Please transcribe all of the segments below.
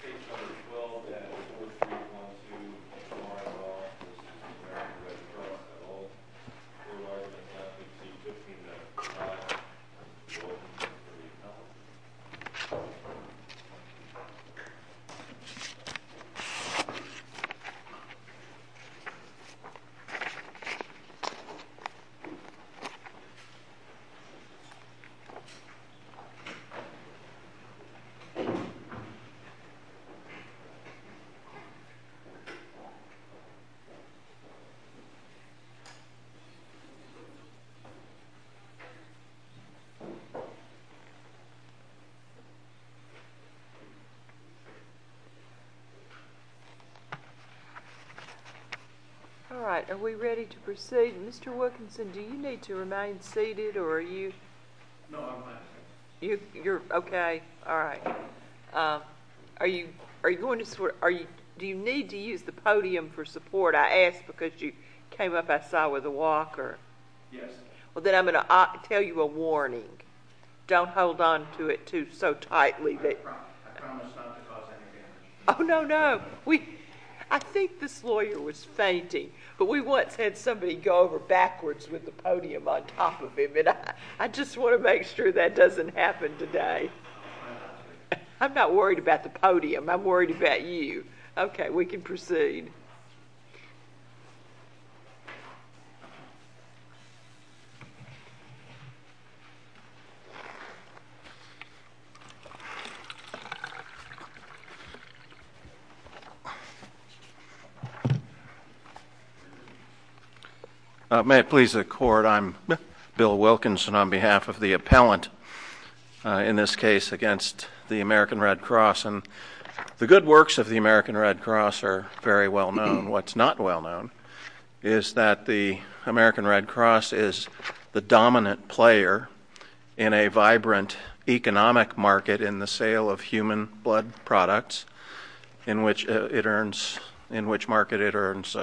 612 and 4312 of my law, this is the American Red Cross at all. This is the American Red Cross at all. All right, are we ready to proceed? Mr. Wilkinson, do you need to remain seated or are you? No, I'm fine. You're okay? All right. Do you need to use the podium for support? I asked because you came up outside with a walker. Yes. Then I'm going to tell you a warning. Don't hold on to it so tightly. I promise not to cause any damage. Oh, no, no. I think this lawyer was fainting, but we once had somebody go over backwards with the podium on top of him. I just want to make sure that doesn't happen today. I'm not worried about the podium. I'm worried about you. Okay, we can proceed. May it please the Court, I'm Bill Wilkinson on behalf of the appellant in this case against the American Red Cross. The good works of the American Red Cross are very well known. What's not well known is that the American Red Cross is the dominant player in a vibrant economic market in the sale of human blood products, in which market it earns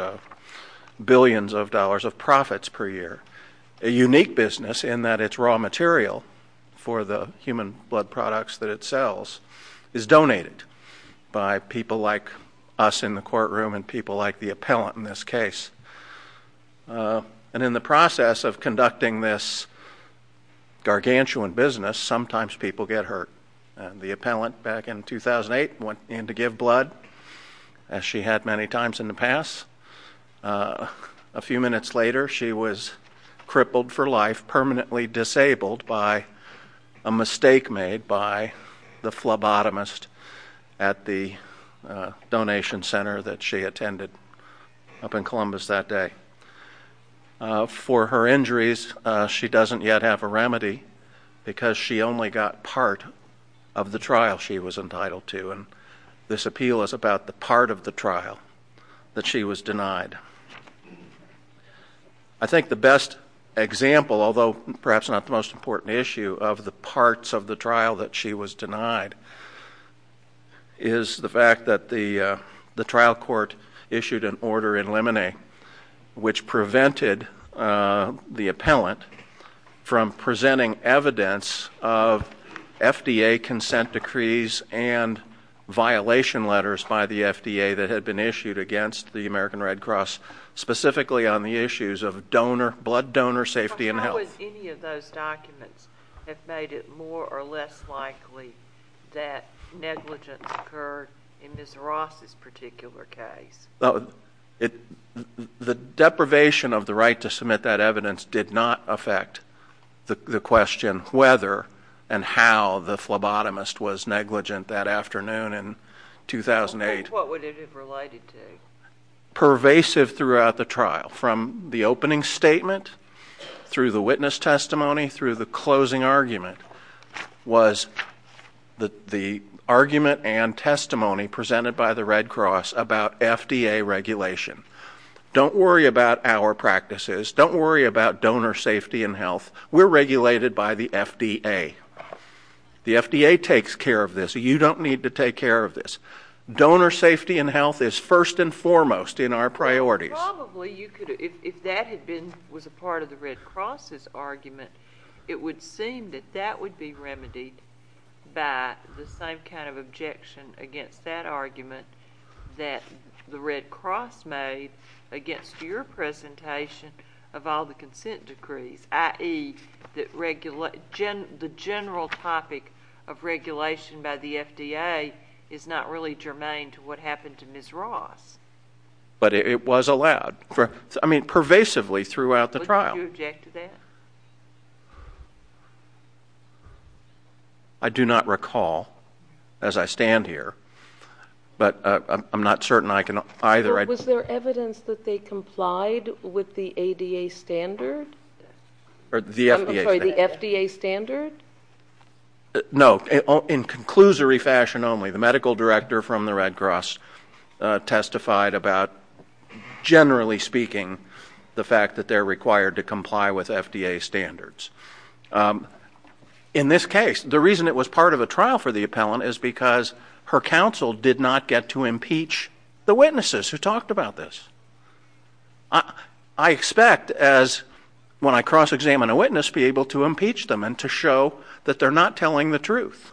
billions of dollars of profits per year, a unique business in that its raw material for the human blood products that it sells is donated by people like us in the courtroom and people like the appellant in this case. And in the process of conducting this gargantuan business, sometimes people get hurt. The appellant back in 2008 went in to give blood, as she had many times in the past. A few minutes later, she was crippled for life, permanently disabled by a mistake made by the phlebotomist at the donation center that she attended up in Columbus that day. For her injuries, she doesn't yet have a remedy because she only got part of the trial she was entitled to. This appeal is about the part of the trial that she was denied. I think the best example, although perhaps not the most important issue, of the parts of the trial that she was denied is the fact that the trial court issued an order in limine, which prevented the appellant from presenting evidence of FDA consent decrees and violation letters by the FDA that had been issued against the American Red Cross, specifically on the issues of blood donor safety and health. How would any of those documents have made it more or less likely that negligence occurred in Ms. Ross' particular case? The deprivation of the right to submit that evidence did not affect the question whether and how the phlebotomist was negligent that afternoon in 2008. What would it have related to? Pervasive throughout the trial, from the opening statement, through the witness testimony, through the closing argument, was the argument and testimony presented by the Red Cross about FDA regulation. Don't worry about our practices. Don't worry about donor safety and health. We're regulated by the FDA. The FDA takes care of this. You don't need to take care of this. Donor safety and health is first and foremost in our priorities. If that was a part of the Red Cross' argument, it would seem that that would be remedied by the same kind of objection against that argument that the Red Cross made against your presentation of all the consent decrees, i.e., the general topic of regulation by the FDA is not really germane to what happened to Ms. Ross. But it was allowed. I mean, pervasively throughout the trial. Would you object to that? I do not recall as I stand here, but I'm not certain I can either. Was there evidence that they complied with the FDA standard? No. In conclusory fashion only, the medical director from the Red Cross testified about, generally speaking, the fact that they're required to comply with FDA standards. In this case, the reason it was part of a trial for the appellant is because her counsel did not get to impeach the witnesses who talked about this. I expect as, when I cross-examine a witness, and to show that they're not telling the truth.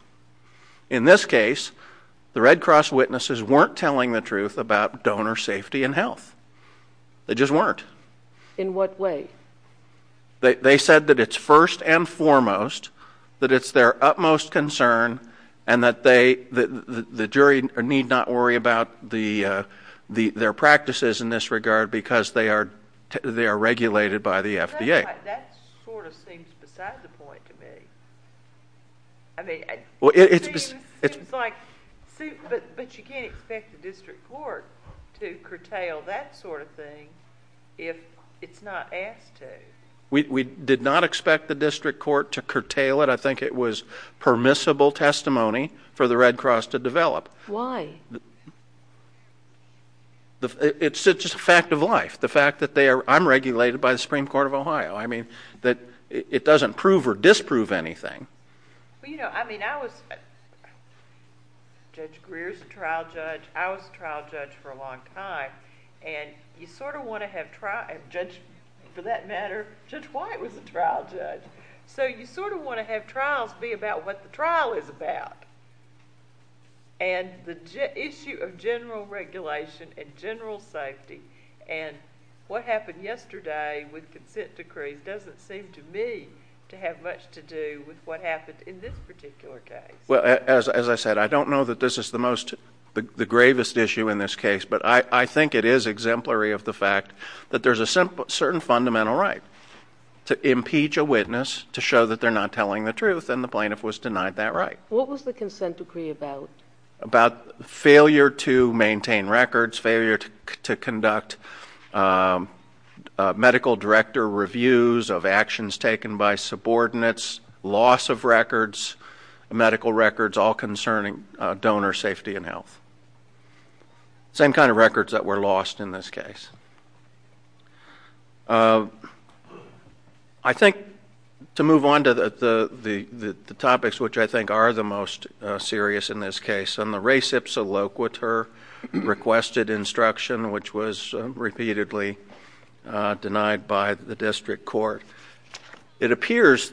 In this case, the Red Cross witnesses weren't telling the truth about donor safety and health. They just weren't. In what way? They said that it's first and foremost, that it's their utmost concern, and that the jury need not worry about their practices in this regard because they are regulated by the FDA. That sort of seems beside the point to me. I mean, it seems like, but you can't expect the district court to curtail that sort of thing if it's not asked to. We did not expect the district court to curtail it. I think it was permissible testimony for the Red Cross to develop. Why? It's just a fact of life, the fact that I'm regulated by the Supreme Court of Ohio. I mean, it doesn't prove or disprove anything. Well, you know, I mean, I was Judge Greer's trial judge. I was a trial judge for a long time, and you sort of want to have trials. Judge, for that matter, Judge White was a trial judge. So you sort of want to have trials be about what the trial is about. And the issue of general regulation and general safety and what happened yesterday with consent decrees doesn't seem to me to have much to do with what happened in this particular case. Well, as I said, I don't know that this is the most, the gravest issue in this case, but I think it is exemplary of the fact that there's a certain fundamental right to impeach a witness to show that they're not telling the truth, and the plaintiff was denied that right. What was the consent decree about? About failure to maintain records, failure to conduct medical director reviews of actions taken by subordinates, loss of records, medical records, all concerning donor safety and health. Same kind of records that were lost in this case. I think to move on to the topics which I think are the most serious in this case, on the res ipsa loquitur requested instruction, which was repeatedly denied by the district court. It appears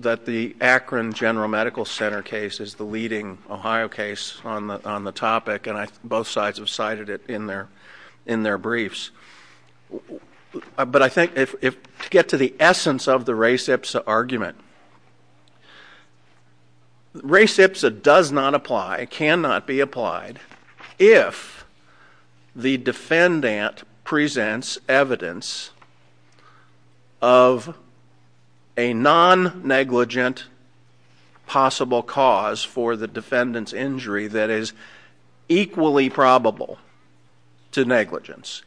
that the Akron General Medical Center case is the leading Ohio case on the topic, and both sides have cited it in their briefs. But I think to get to the essence of the res ipsa argument, res ipsa does not apply, cannot be applied, if the defendant presents evidence of a non-negligent possible cause for the defendant's injury, that is equally probable to negligence.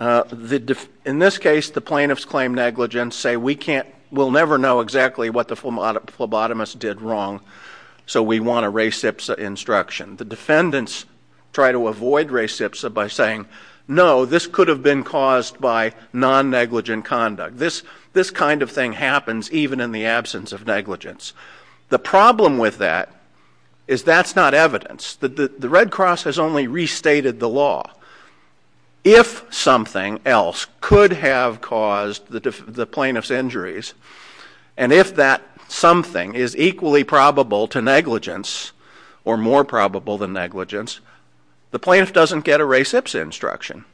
In this case, the plaintiffs claim negligence, say we'll never know exactly what the phlebotomist did wrong, so we want a res ipsa instruction. The defendants try to avoid res ipsa by saying, no, this could have been caused by non-negligent conduct. This kind of thing happens even in the absence of negligence. The problem with that is that's not evidence. The Red Cross has only restated the law. If something else could have caused the plaintiff's injuries, and if that something is equally probable to negligence or more probable than negligence, the plaintiff doesn't get a res ipsa instruction.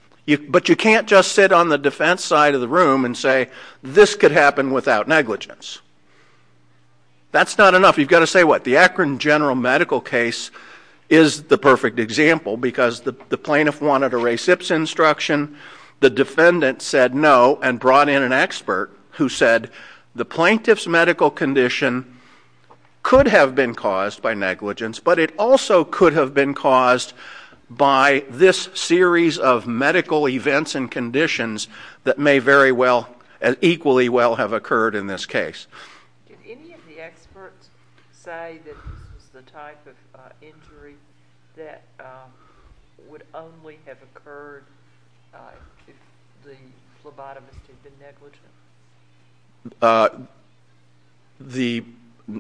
But you can't just sit on the defense side of the room and say this could happen without negligence. That's not enough. You've got to say what? The Akron general medical case is the perfect example because the plaintiff wanted a res ipsa instruction. The defendant said no and brought in an expert who said the plaintiff's medical condition could have been caused by negligence, but it also could have been caused by this series of medical events and conditions that may very well, equally well have occurred in this case. Did any of the experts say that this was the type of injury that would only have occurred if the phlebotomist had been negligent? The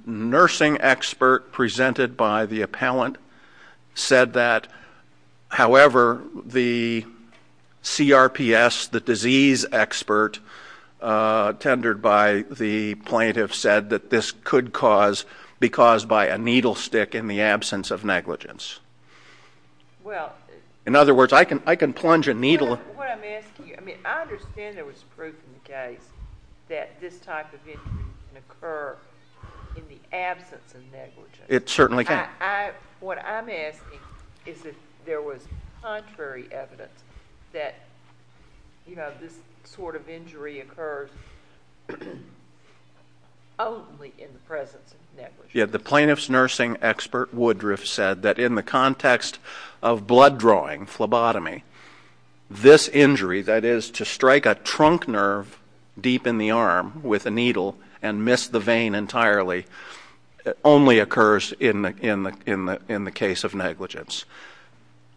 nursing expert presented by the appellant said that, however, the CRPS, the disease expert tendered by the plaintiff, said that this could be caused by a needle stick in the absence of negligence. In other words, I can plunge a needle. I understand there was proof in the case that this type of injury can occur in the absence of negligence. It certainly can. What I'm asking is if there was contrary evidence that this sort of injury occurs only in the presence of negligence. Yet the plaintiff's nursing expert, Woodruff, said that in the context of blood drawing, phlebotomy, this injury, that is to strike a trunk nerve deep in the arm with a needle and miss the vein entirely, only occurs in the case of negligence.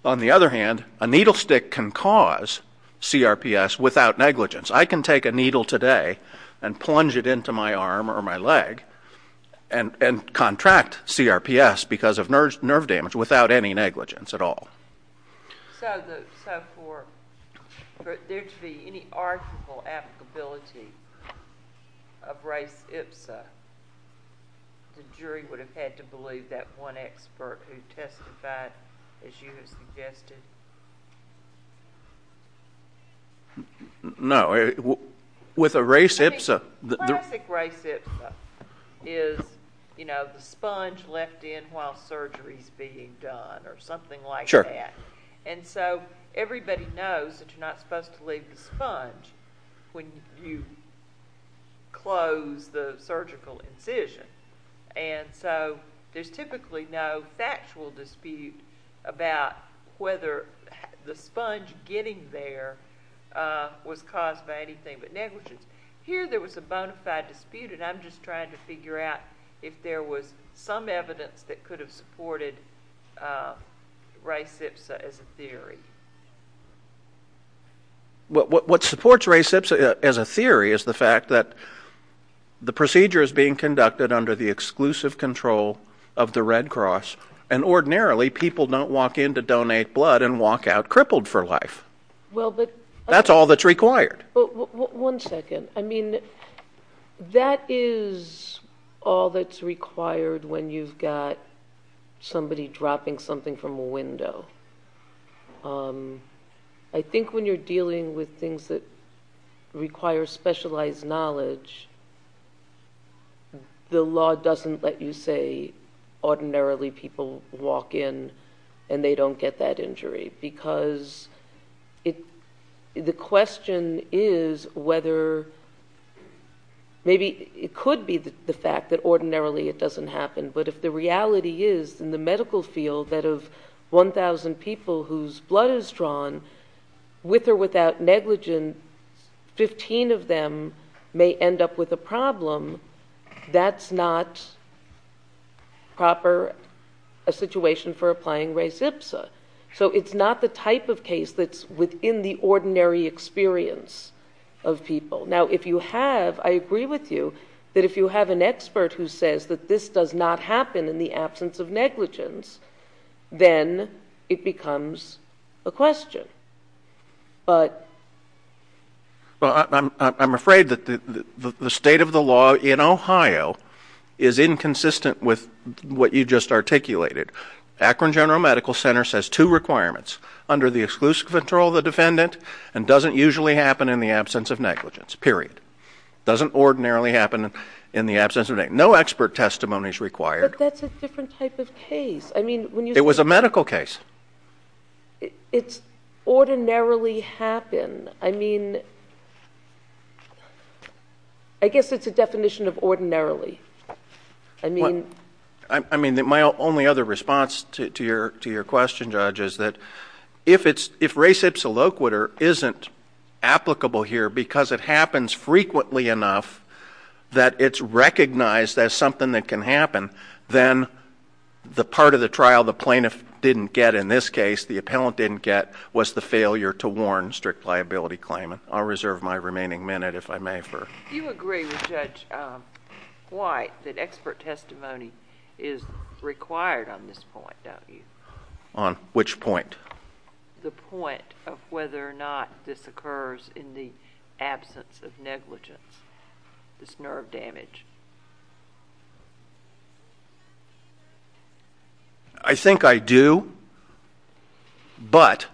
On the other hand, a needle stick can cause CRPS without negligence. I can take a needle today and plunge it into my arm or my leg and contract CRPS because of nerve damage without any negligence at all. So for there to be any arguable applicability of race ipsa, the jury would have had to believe that one expert who testified, as you have suggested? No. With a race ipsa? The classic race ipsa is, you know, the sponge left in while surgery is being done or something like that. Sure. And so everybody knows that you're not supposed to leave the sponge when you close the surgical incision. And so there's typically no factual dispute about whether the sponge getting there was caused by anything but negligence. Here there was a bona fide dispute, and I'm just trying to figure out if there was some evidence that could have supported race ipsa as a theory. What supports race ipsa as a theory is the fact that the procedure is being conducted under the exclusive control of the Red Cross, and ordinarily people don't walk in to donate blood and walk out crippled for life. That's all that's required. One second. I mean, that is all that's required when you've got somebody dropping something from a window. I think when you're dealing with things that require specialized knowledge, the law doesn't let you say ordinarily people walk in and they don't get that injury, because the question is whether maybe it could be the fact that ordinarily it doesn't happen, but if the reality is in the medical field that of 1,000 people whose blood is drawn, with or without negligence, 15 of them may end up with a problem. That's not proper a situation for applying race ipsa. So it's not the type of case that's within the ordinary experience of people. Now, if you have, I agree with you, that if you have an expert who says that this does not happen in the absence of negligence, then it becomes a question. But... Well, I'm afraid that the state of the law in Ohio is inconsistent with what you just articulated. Akron General Medical Center says two requirements, under the exclusive control of the defendant, and doesn't usually happen in the absence of negligence, period. Doesn't ordinarily happen in the absence of negligence. No expert testimony is required. But that's a different type of case. It was a medical case. It's ordinarily happen. I mean, I guess it's a definition of ordinarily. I mean, my only other response to your question, Judge, is that if race ipsa loquitur isn't applicable here because it happens frequently enough that it's recognized as something that can happen, then the part of the trial the plaintiff didn't get, in this case, the appellant didn't get, was the failure to warn strict liability claimant. I'll reserve my remaining minute, if I may. You agree with Judge White that expert testimony is required on this point, don't you? On which point? The point of whether or not this occurs in the absence of negligence, this nerve damage. I think I do. But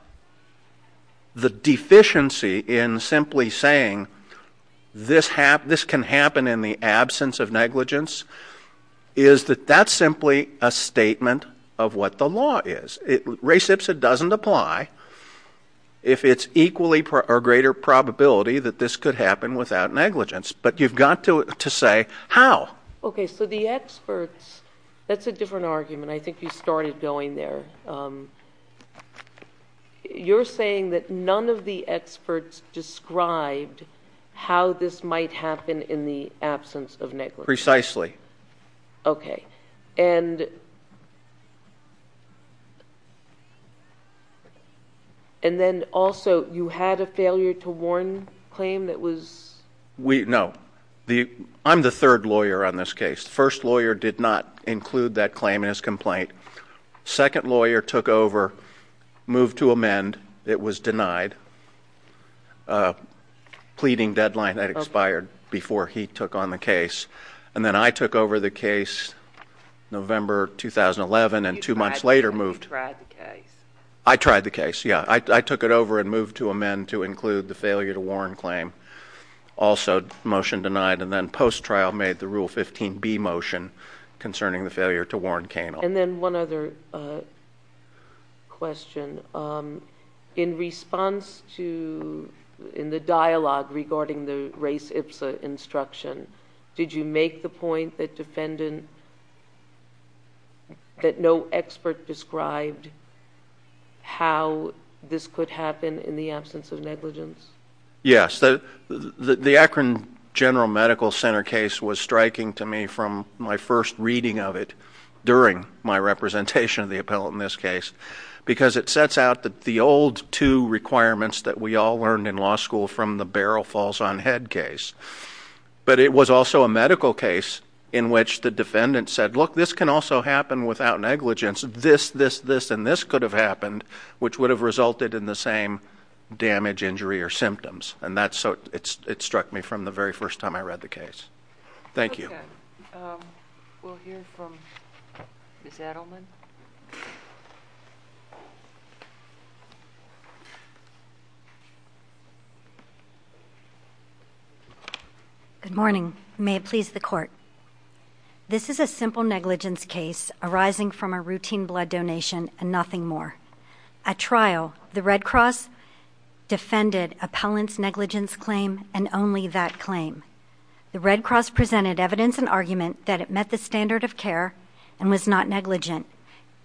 the deficiency in simply saying this can happen in the absence of negligence is that that's simply a statement of what the law is. Race ipsa doesn't apply if it's equally or greater probability that this could happen without negligence. But you've got to say how. Okay, so the experts, that's a different argument. I think you started going there. You're saying that none of the experts described how this might happen in the absence of negligence. Precisely. Okay. And then also, you had a failure to warn claim that was? No. I'm the third lawyer on this case. The first lawyer did not include that claim in his complaint. The second lawyer took over, moved to amend. It was denied. A pleading deadline had expired before he took on the case. And then I took over the case November 2011 and two months later moved. You tried the case. I tried the case, yeah. I took it over and moved to amend to include the failure to warn claim. Also, motion denied. And then post-trial made the Rule 15b motion concerning the failure to warn Kainal. And then one other question. In response to, in the dialogue regarding the race IPSA instruction, did you make the point that no expert described how this could happen in the absence of negligence? Yes. The Akron General Medical Center case was striking to me from my first reading of it during my representation of the appellate in this case because it sets out the old two requirements that we all learned in law school from the Barrel Falls on Head case. But it was also a medical case in which the defendant said, look, this can also happen without negligence. This, this, this, and this could have happened, which would have resulted in the same damage, injury, or symptoms. And that's so, it struck me from the very first time I read the case. Thank you. Okay. We'll hear from Ms. Adelman. Good morning. May it please the Court. This is a simple negligence case arising from a routine blood donation and nothing more. At trial, the Red Cross defended appellant's negligence claim and only that claim. The Red Cross presented evidence and argument that it met the standard of care and was not negligent.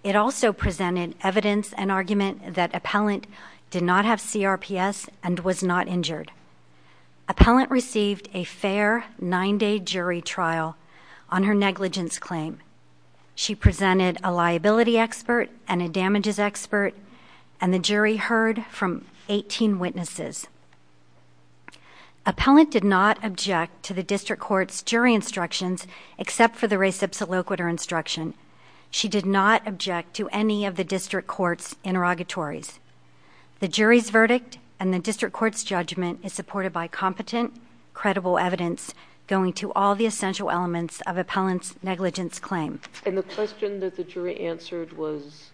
It also presented evidence and argument that appellant did not have CRPS and was not injured. Appellant received a fair nine-day jury trial on her negligence claim. She presented a liability expert and a damages expert, and the jury heard from 18 witnesses. Appellant did not object to the district court's jury instructions except for the res ipsa loquitur instruction. She did not object to any of the district court's interrogatories. The jury's verdict and the district court's judgment is supported by competent, credible evidence going to all the essential elements of appellant's negligence claim. And the question that the jury answered was?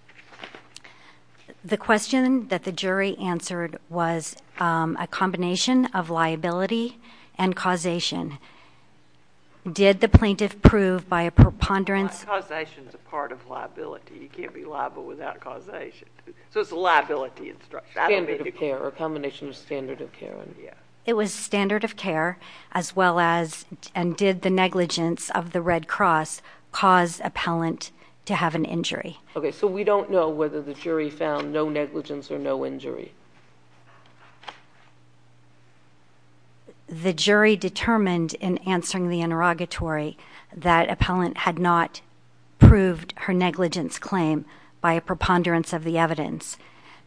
The question that the jury answered was a combination of liability and causation. Did the plaintiff prove by a preponderance? Causation is a part of liability. You can't be liable without causation. So it's a liability instruction. Standard of care, a combination of standard of care. It was standard of care as well as, and did the negligence of the Red Cross cause appellant to have an injury? Okay, so we don't know whether the jury found no negligence or no injury. The jury determined in answering the interrogatory that appellant had not proved her negligence claim by a preponderance of the evidence.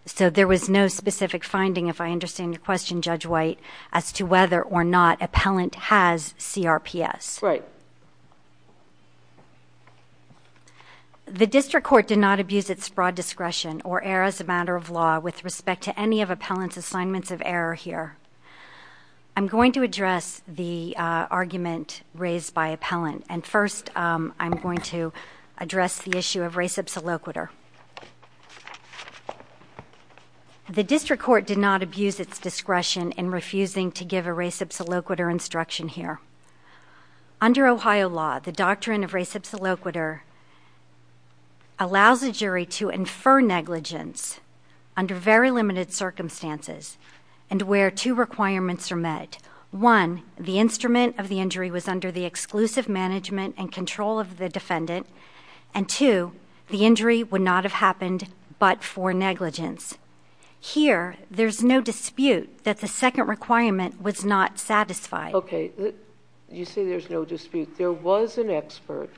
So there was no specific finding, if I understand your question, Judge White, as to whether or not appellant has CRPS. Right. The district court did not abuse its broad discretion or err as a matter of law with respect to any of appellant's assignments of error here. I'm going to address the argument raised by appellant. And first, I'm going to address the issue of res ipsa loquitur. The district court did not abuse its discretion in refusing to give a res ipsa loquitur instruction here. Under Ohio law, the doctrine of res ipsa loquitur allows a jury to infer negligence under very limited circumstances and where two requirements are met. One, the instrument of the injury was under the exclusive management and control of the defendant. And two, the injury would not have happened but for negligence. Here, there's no dispute that the second requirement was not satisfied. Okay. You say there's no dispute. There was an expert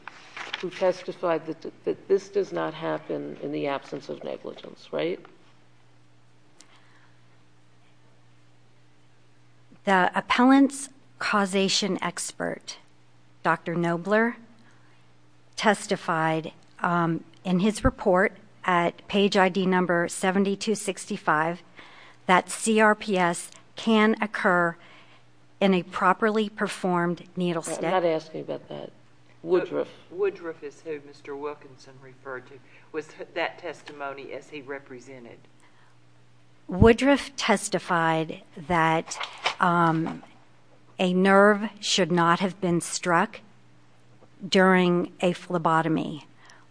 who testified that this does not happen in the absence of negligence, right? The appellant's causation expert, Dr. Nobler, testified in his report at page ID number 7265 that CRPS can occur in a properly performed needle step. I'm not asking about that. Woodruff. Woodruff is who Mr. Wilkinson referred to. Was that testimony as he represented? Woodruff testified that a nerve should not have been struck during a phlebotomy.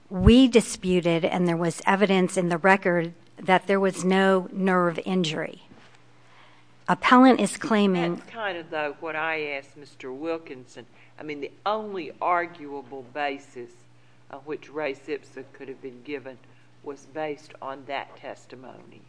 We disputed, and there was evidence in the record, that there was no nerve injury. Appellant is claiming... That's kind of, though, what I asked Mr. Wilkinson. I mean, the only arguable basis on which race ipsa could have been given was based on that testimony.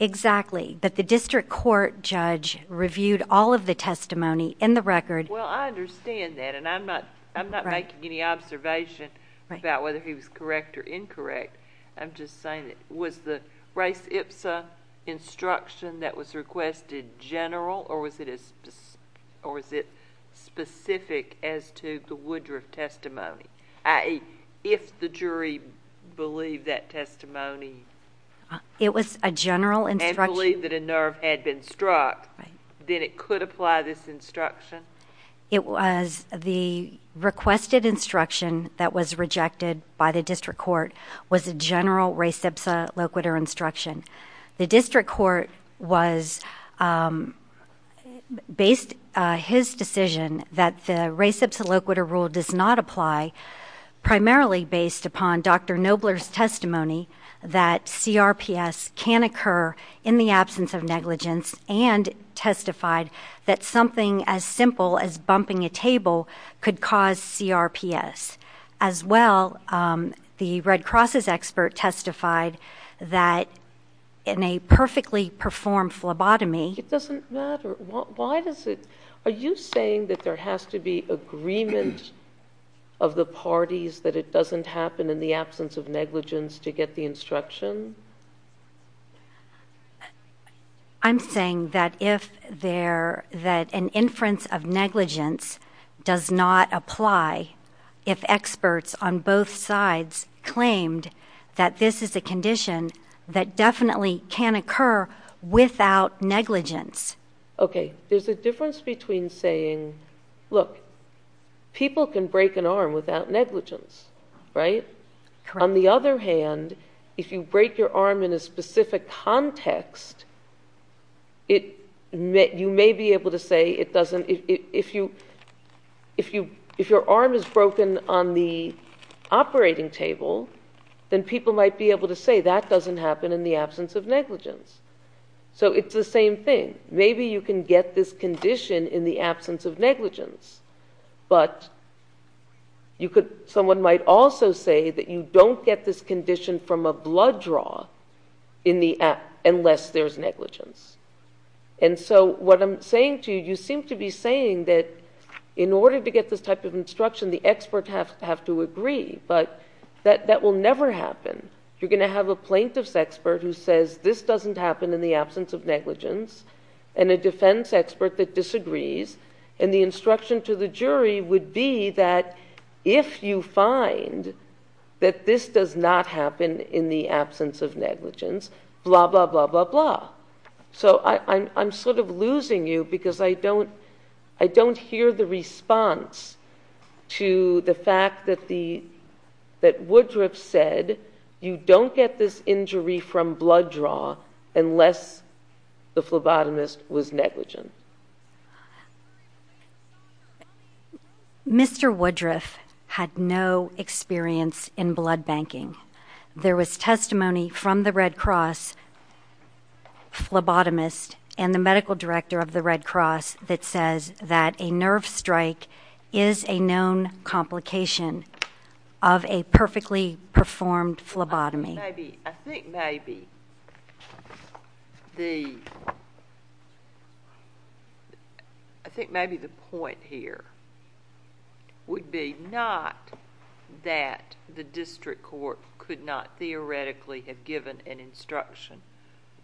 Exactly. But the district court judge reviewed all of the testimony in the record. Well, I understand that, and I'm not making any observation about whether he was correct or incorrect. I'm just saying, was the race ipsa instruction that was requested general, or was it specific as to the Woodruff testimony? I.e., if the jury believed that testimony... It was a general instruction. ...and believed that a nerve had been struck, then it could apply this instruction? It was the requested instruction that was rejected by the district court was a general race ipsa loquitur instruction. The district court based his decision that the race ipsa loquitur rule does not apply, primarily based upon Dr. Nobler's testimony that CRPS can occur in the absence of negligence and testified that something as simple as bumping a table could cause CRPS. As well, the Red Cross's expert testified that in a perfectly performed phlebotomy... It doesn't matter. Why does it... Are you saying that there has to be agreement of the parties that it doesn't happen in the absence of negligence to get the instruction? I'm saying that an inference of negligence does not apply if experts on both sides claimed that this is a condition that definitely can occur without negligence. Okay. There's a difference between saying, look, people can break an arm without negligence, right? Correct. On the other hand, if you break your arm in a specific context, you may be able to say it doesn't... If your arm is broken on the operating table, then people might be able to say that doesn't happen in the absence of negligence. So it's the same thing. Maybe you can get this condition in the absence of negligence. But someone might also say that you don't get this condition from a blood draw unless there's negligence. And so what I'm saying to you, you seem to be saying that in order to get this type of instruction, the experts have to agree. But that will never happen. You're going to have a plaintiff's expert who says this doesn't happen in the absence of negligence and a defense expert that disagrees. And the instruction to the jury would be that if you find that this does not happen in the absence of negligence, blah, blah, blah, blah, blah. So I'm sort of losing you because I don't hear the response to the fact that Woodruff said you don't get this injury from blood draw unless the phlebotomist was negligent. Mr. Woodruff had no experience in blood banking. There was testimony from the Red Cross phlebotomist and the medical director of the Red Cross that says that a nerve strike is a known complication of a perfectly performed phlebotomy. I think maybe the point here would be not that the district court could not theoretically have given an instruction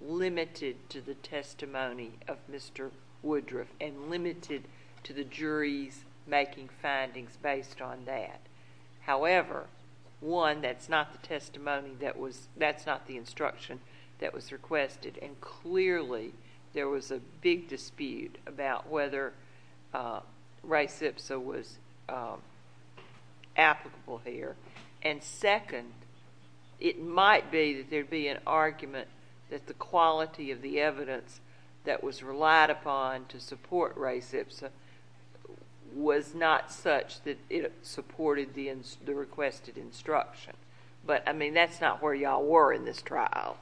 limited to the testimony of Mr. Woodruff and limited to the jury's making findings based on that. However, one, that's not the testimony that was—that's not the instruction that was requested. And clearly, there was a big dispute about whether res ipsa was applicable here. And second, it might be that there'd be an argument that the quality of the evidence that was relied upon to support res ipsa was not such that it supported the requested instruction. But, I mean, that's not where y'all were in this trial.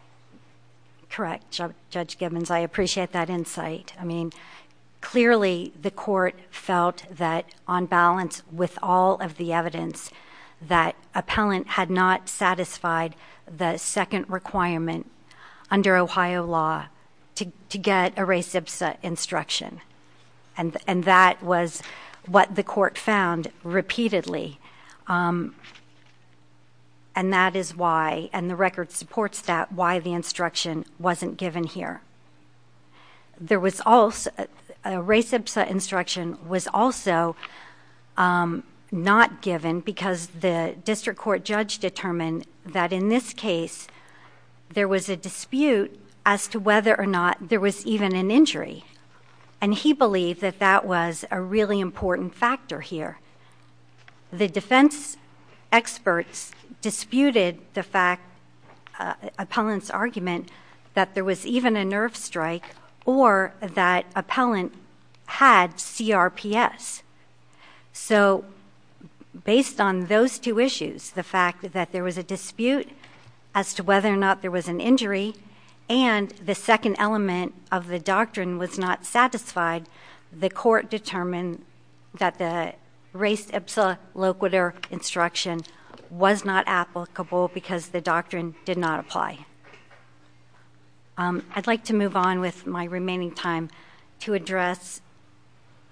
Correct, Judge Gibbons. I appreciate that insight. I mean, clearly, the court felt that on balance with all of the evidence, that appellant had not satisfied the second requirement under Ohio law to get a res ipsa instruction. And that was what the court found repeatedly. And that is why—and the record supports that—why the instruction wasn't given here. There was also—a res ipsa instruction was also not given because the district court judge determined that in this case, there was a dispute as to whether or not there was even an injury. And he believed that that was a really important factor here. The defense experts disputed the fact—appellant's argument—that there was even a nerve strike or that appellant had CRPS. So, based on those two issues—the fact that there was a dispute as to whether or not there was an injury and the second element of the doctrine was not satisfied— the court determined that the res ipsa loquitur instruction was not applicable because the doctrine did not apply. I'd like to move on with my remaining time to address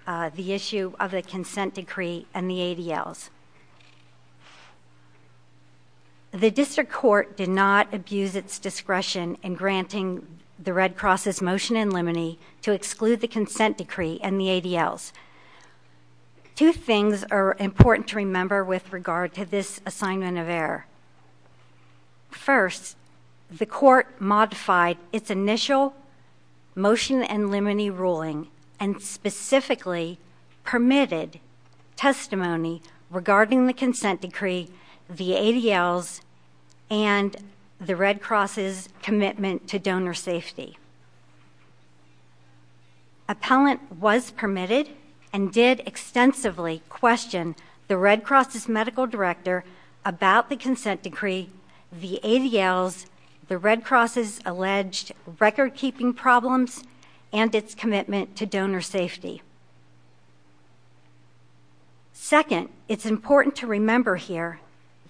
the issue of the consent decree and the ADLs. The district court did not abuse its discretion in granting the Red Cross's motion in limine to exclude the consent decree and the ADLs. Two things are important to remember with regard to this assignment of error. First, the court modified its initial motion in limine ruling and specifically permitted testimony regarding the consent decree, the ADLs, and the Red Cross's commitment to donor safety. Appellant was permitted and did extensively question the Red Cross's medical director about the consent decree, the ADLs, the Red Cross's alleged record-keeping problems, and its commitment to donor safety. Second, it's important to remember here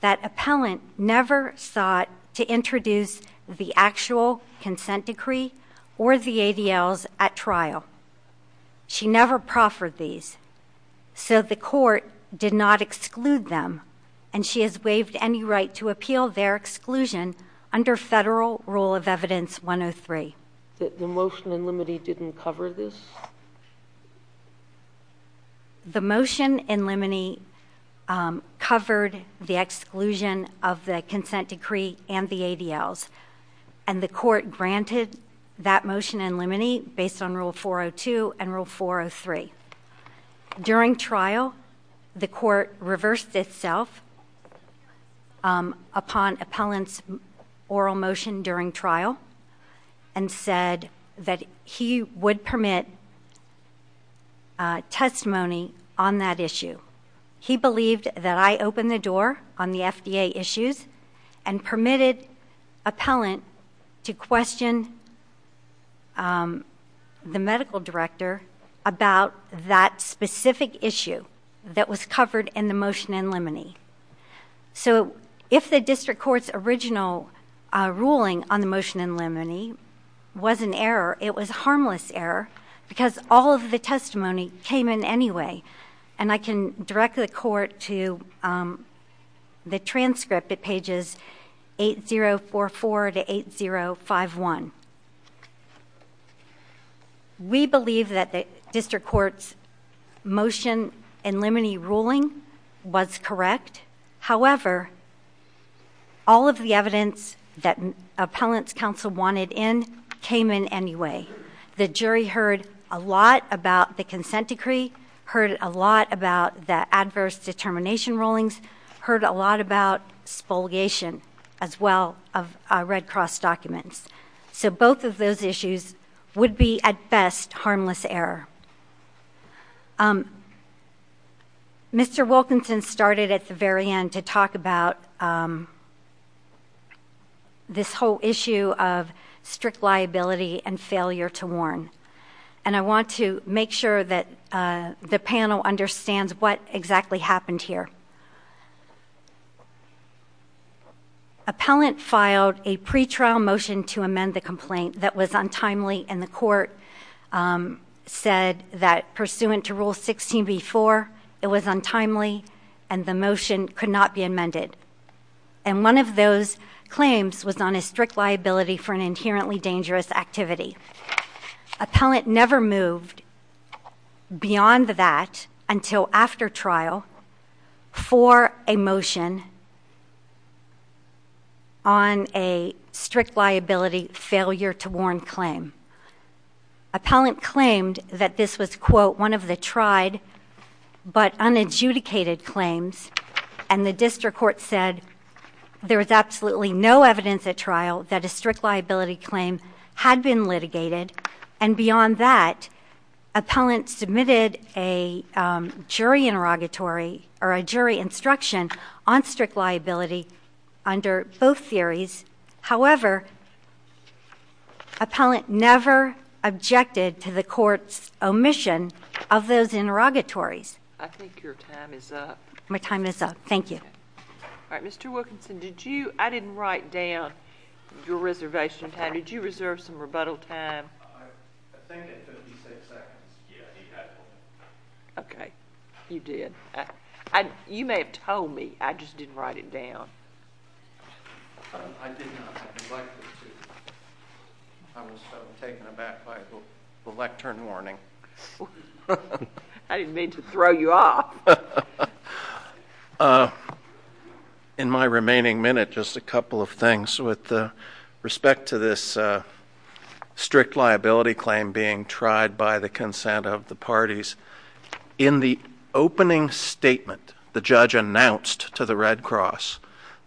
that appellant never sought to introduce the actual consent decree or the ADLs at trial. She never proffered these, so the court did not exclude them, and she has waived any right to appeal their exclusion under Federal Rule of Evidence 103. The motion in limine didn't cover this? The motion in limine covered the exclusion of the consent decree and the ADLs, and the court granted that motion in limine based on Rule 402 and Rule 403. During trial, the court reversed itself upon appellant's oral motion during trial and said that he would permit testimony on that issue. He believed that I opened the door on the FDA issues and permitted appellant to question the medical director about that specific issue that was covered in the motion in limine. So if the district court's original ruling on the motion in limine was an error, it was a harmless error because all of the testimony came in anyway, and I can direct the court to the transcript at pages 8044 to 8051. We believe that the district court's motion in limine ruling was correct. However, all of the evidence that appellant's counsel wanted in came in anyway. The jury heard a lot about the consent decree, heard a lot about the adverse determination rulings, heard a lot about spoliation as well of Red Cross documents. So both of those issues would be, at best, harmless error. Mr. Wilkinson started at the very end to talk about this whole issue of strict liability and failure to warn, and I want to make sure that the panel understands what exactly happened here. Appellant filed a pre-trial motion to amend the complaint that was untimely, and the court said that pursuant to Rule 16b-4, it was untimely, and the motion could not be amended. And one of those claims was on a strict liability for an inherently dangerous activity. Appellant never moved beyond that until after trial for a motion on a strict liability failure to warn claim. Appellant claimed that this was, quote, one of the tried but unadjudicated claims, and the district court said there was absolutely no evidence at trial that a strict liability claim had been litigated. And beyond that, appellant submitted a jury interrogatory or a jury instruction on strict liability under both theories. However, appellant never objected to the court's omission of those interrogatories. I think your time is up. My time is up. Thank you. All right. Mr. Wilkinson, I didn't write down your reservation time. Did you reserve some rebuttal time? I think at 56 seconds, yeah, he had one. Okay. You did. You may have told me. I just didn't write it down. I did not. I was taken aback by the lectern warning. I didn't mean to throw you off. In my remaining minute, just a couple of things with respect to this strict liability claim being tried by the consent of the parties. In the opening statement, the judge announced to the Red Cross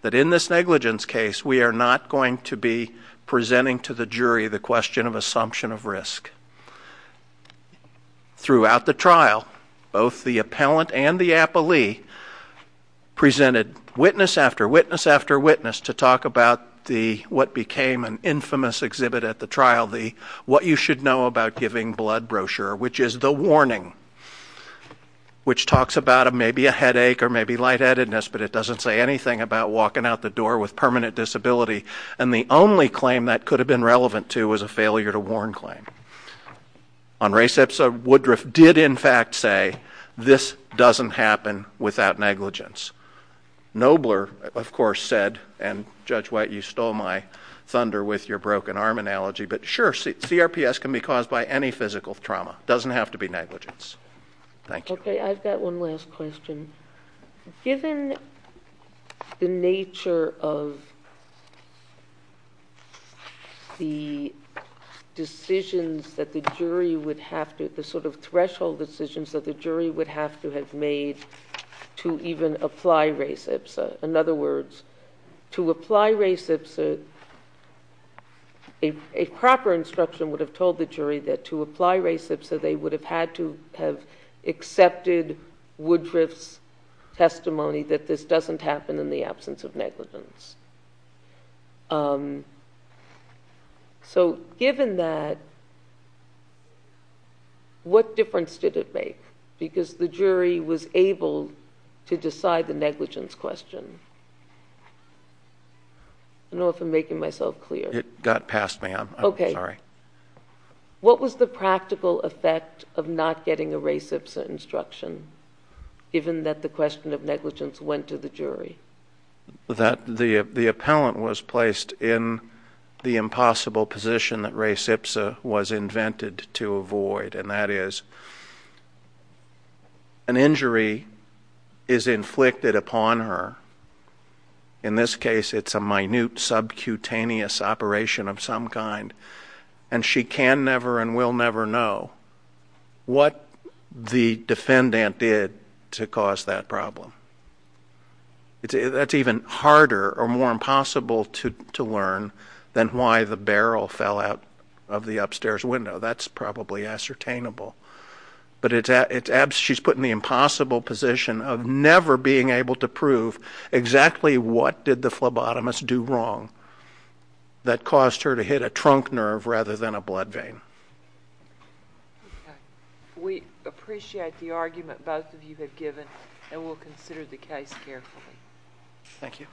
that in this negligence case, we are not going to be presenting to the jury the question of assumption of risk. Throughout the trial, both the appellant and the appellee presented witness after witness after witness to talk about what became an infamous exhibit at the trial, the what you should know about giving blood brochure, which is the warning, which talks about maybe a headache or maybe lightheadedness, but it doesn't say anything about walking out the door with permanent disability. And the only claim that could have been relevant to was a failure to warn claim. On res ipsa, Woodruff did, in fact, say this doesn't happen without negligence. Nobler, of course, said, and Judge White, you stole my thunder with your broken arm analogy. But sure, CRPS can be caused by any physical trauma. It doesn't have to be negligence. Thank you. Okay, I've got one last question. Given the nature of the decisions that the jury would have to, the sort of threshold decisions that the jury would have to have made to even apply res ipsa, in other words, to apply res ipsa, a proper instruction would have told the jury that to apply res ipsa, they would have had to have accepted Woodruff's testimony that this doesn't happen in the absence of negligence. So given that, what difference did it make? Because the jury was able to decide the negligence question. I don't know if I'm making myself clear. It got past me. I'm sorry. What was the practical effect of not getting a res ipsa instruction, given that the question of negligence went to the jury? That the appellant was placed in the impossible position that res ipsa was invented to avoid, and that is an injury is inflicted upon her. In this case, it's a minute subcutaneous operation of some kind, and she can never and will never know what the defendant did to cause that problem. That's even harder or more impossible to learn than why the barrel fell out of the upstairs window. That's probably ascertainable. But she's put in the impossible position of never being able to prove exactly what did the phlebotomist do wrong that caused her to hit a trunk nerve rather than a blood vein. Okay. We appreciate the argument both of you have given, and we'll consider the case carefully. Thank you.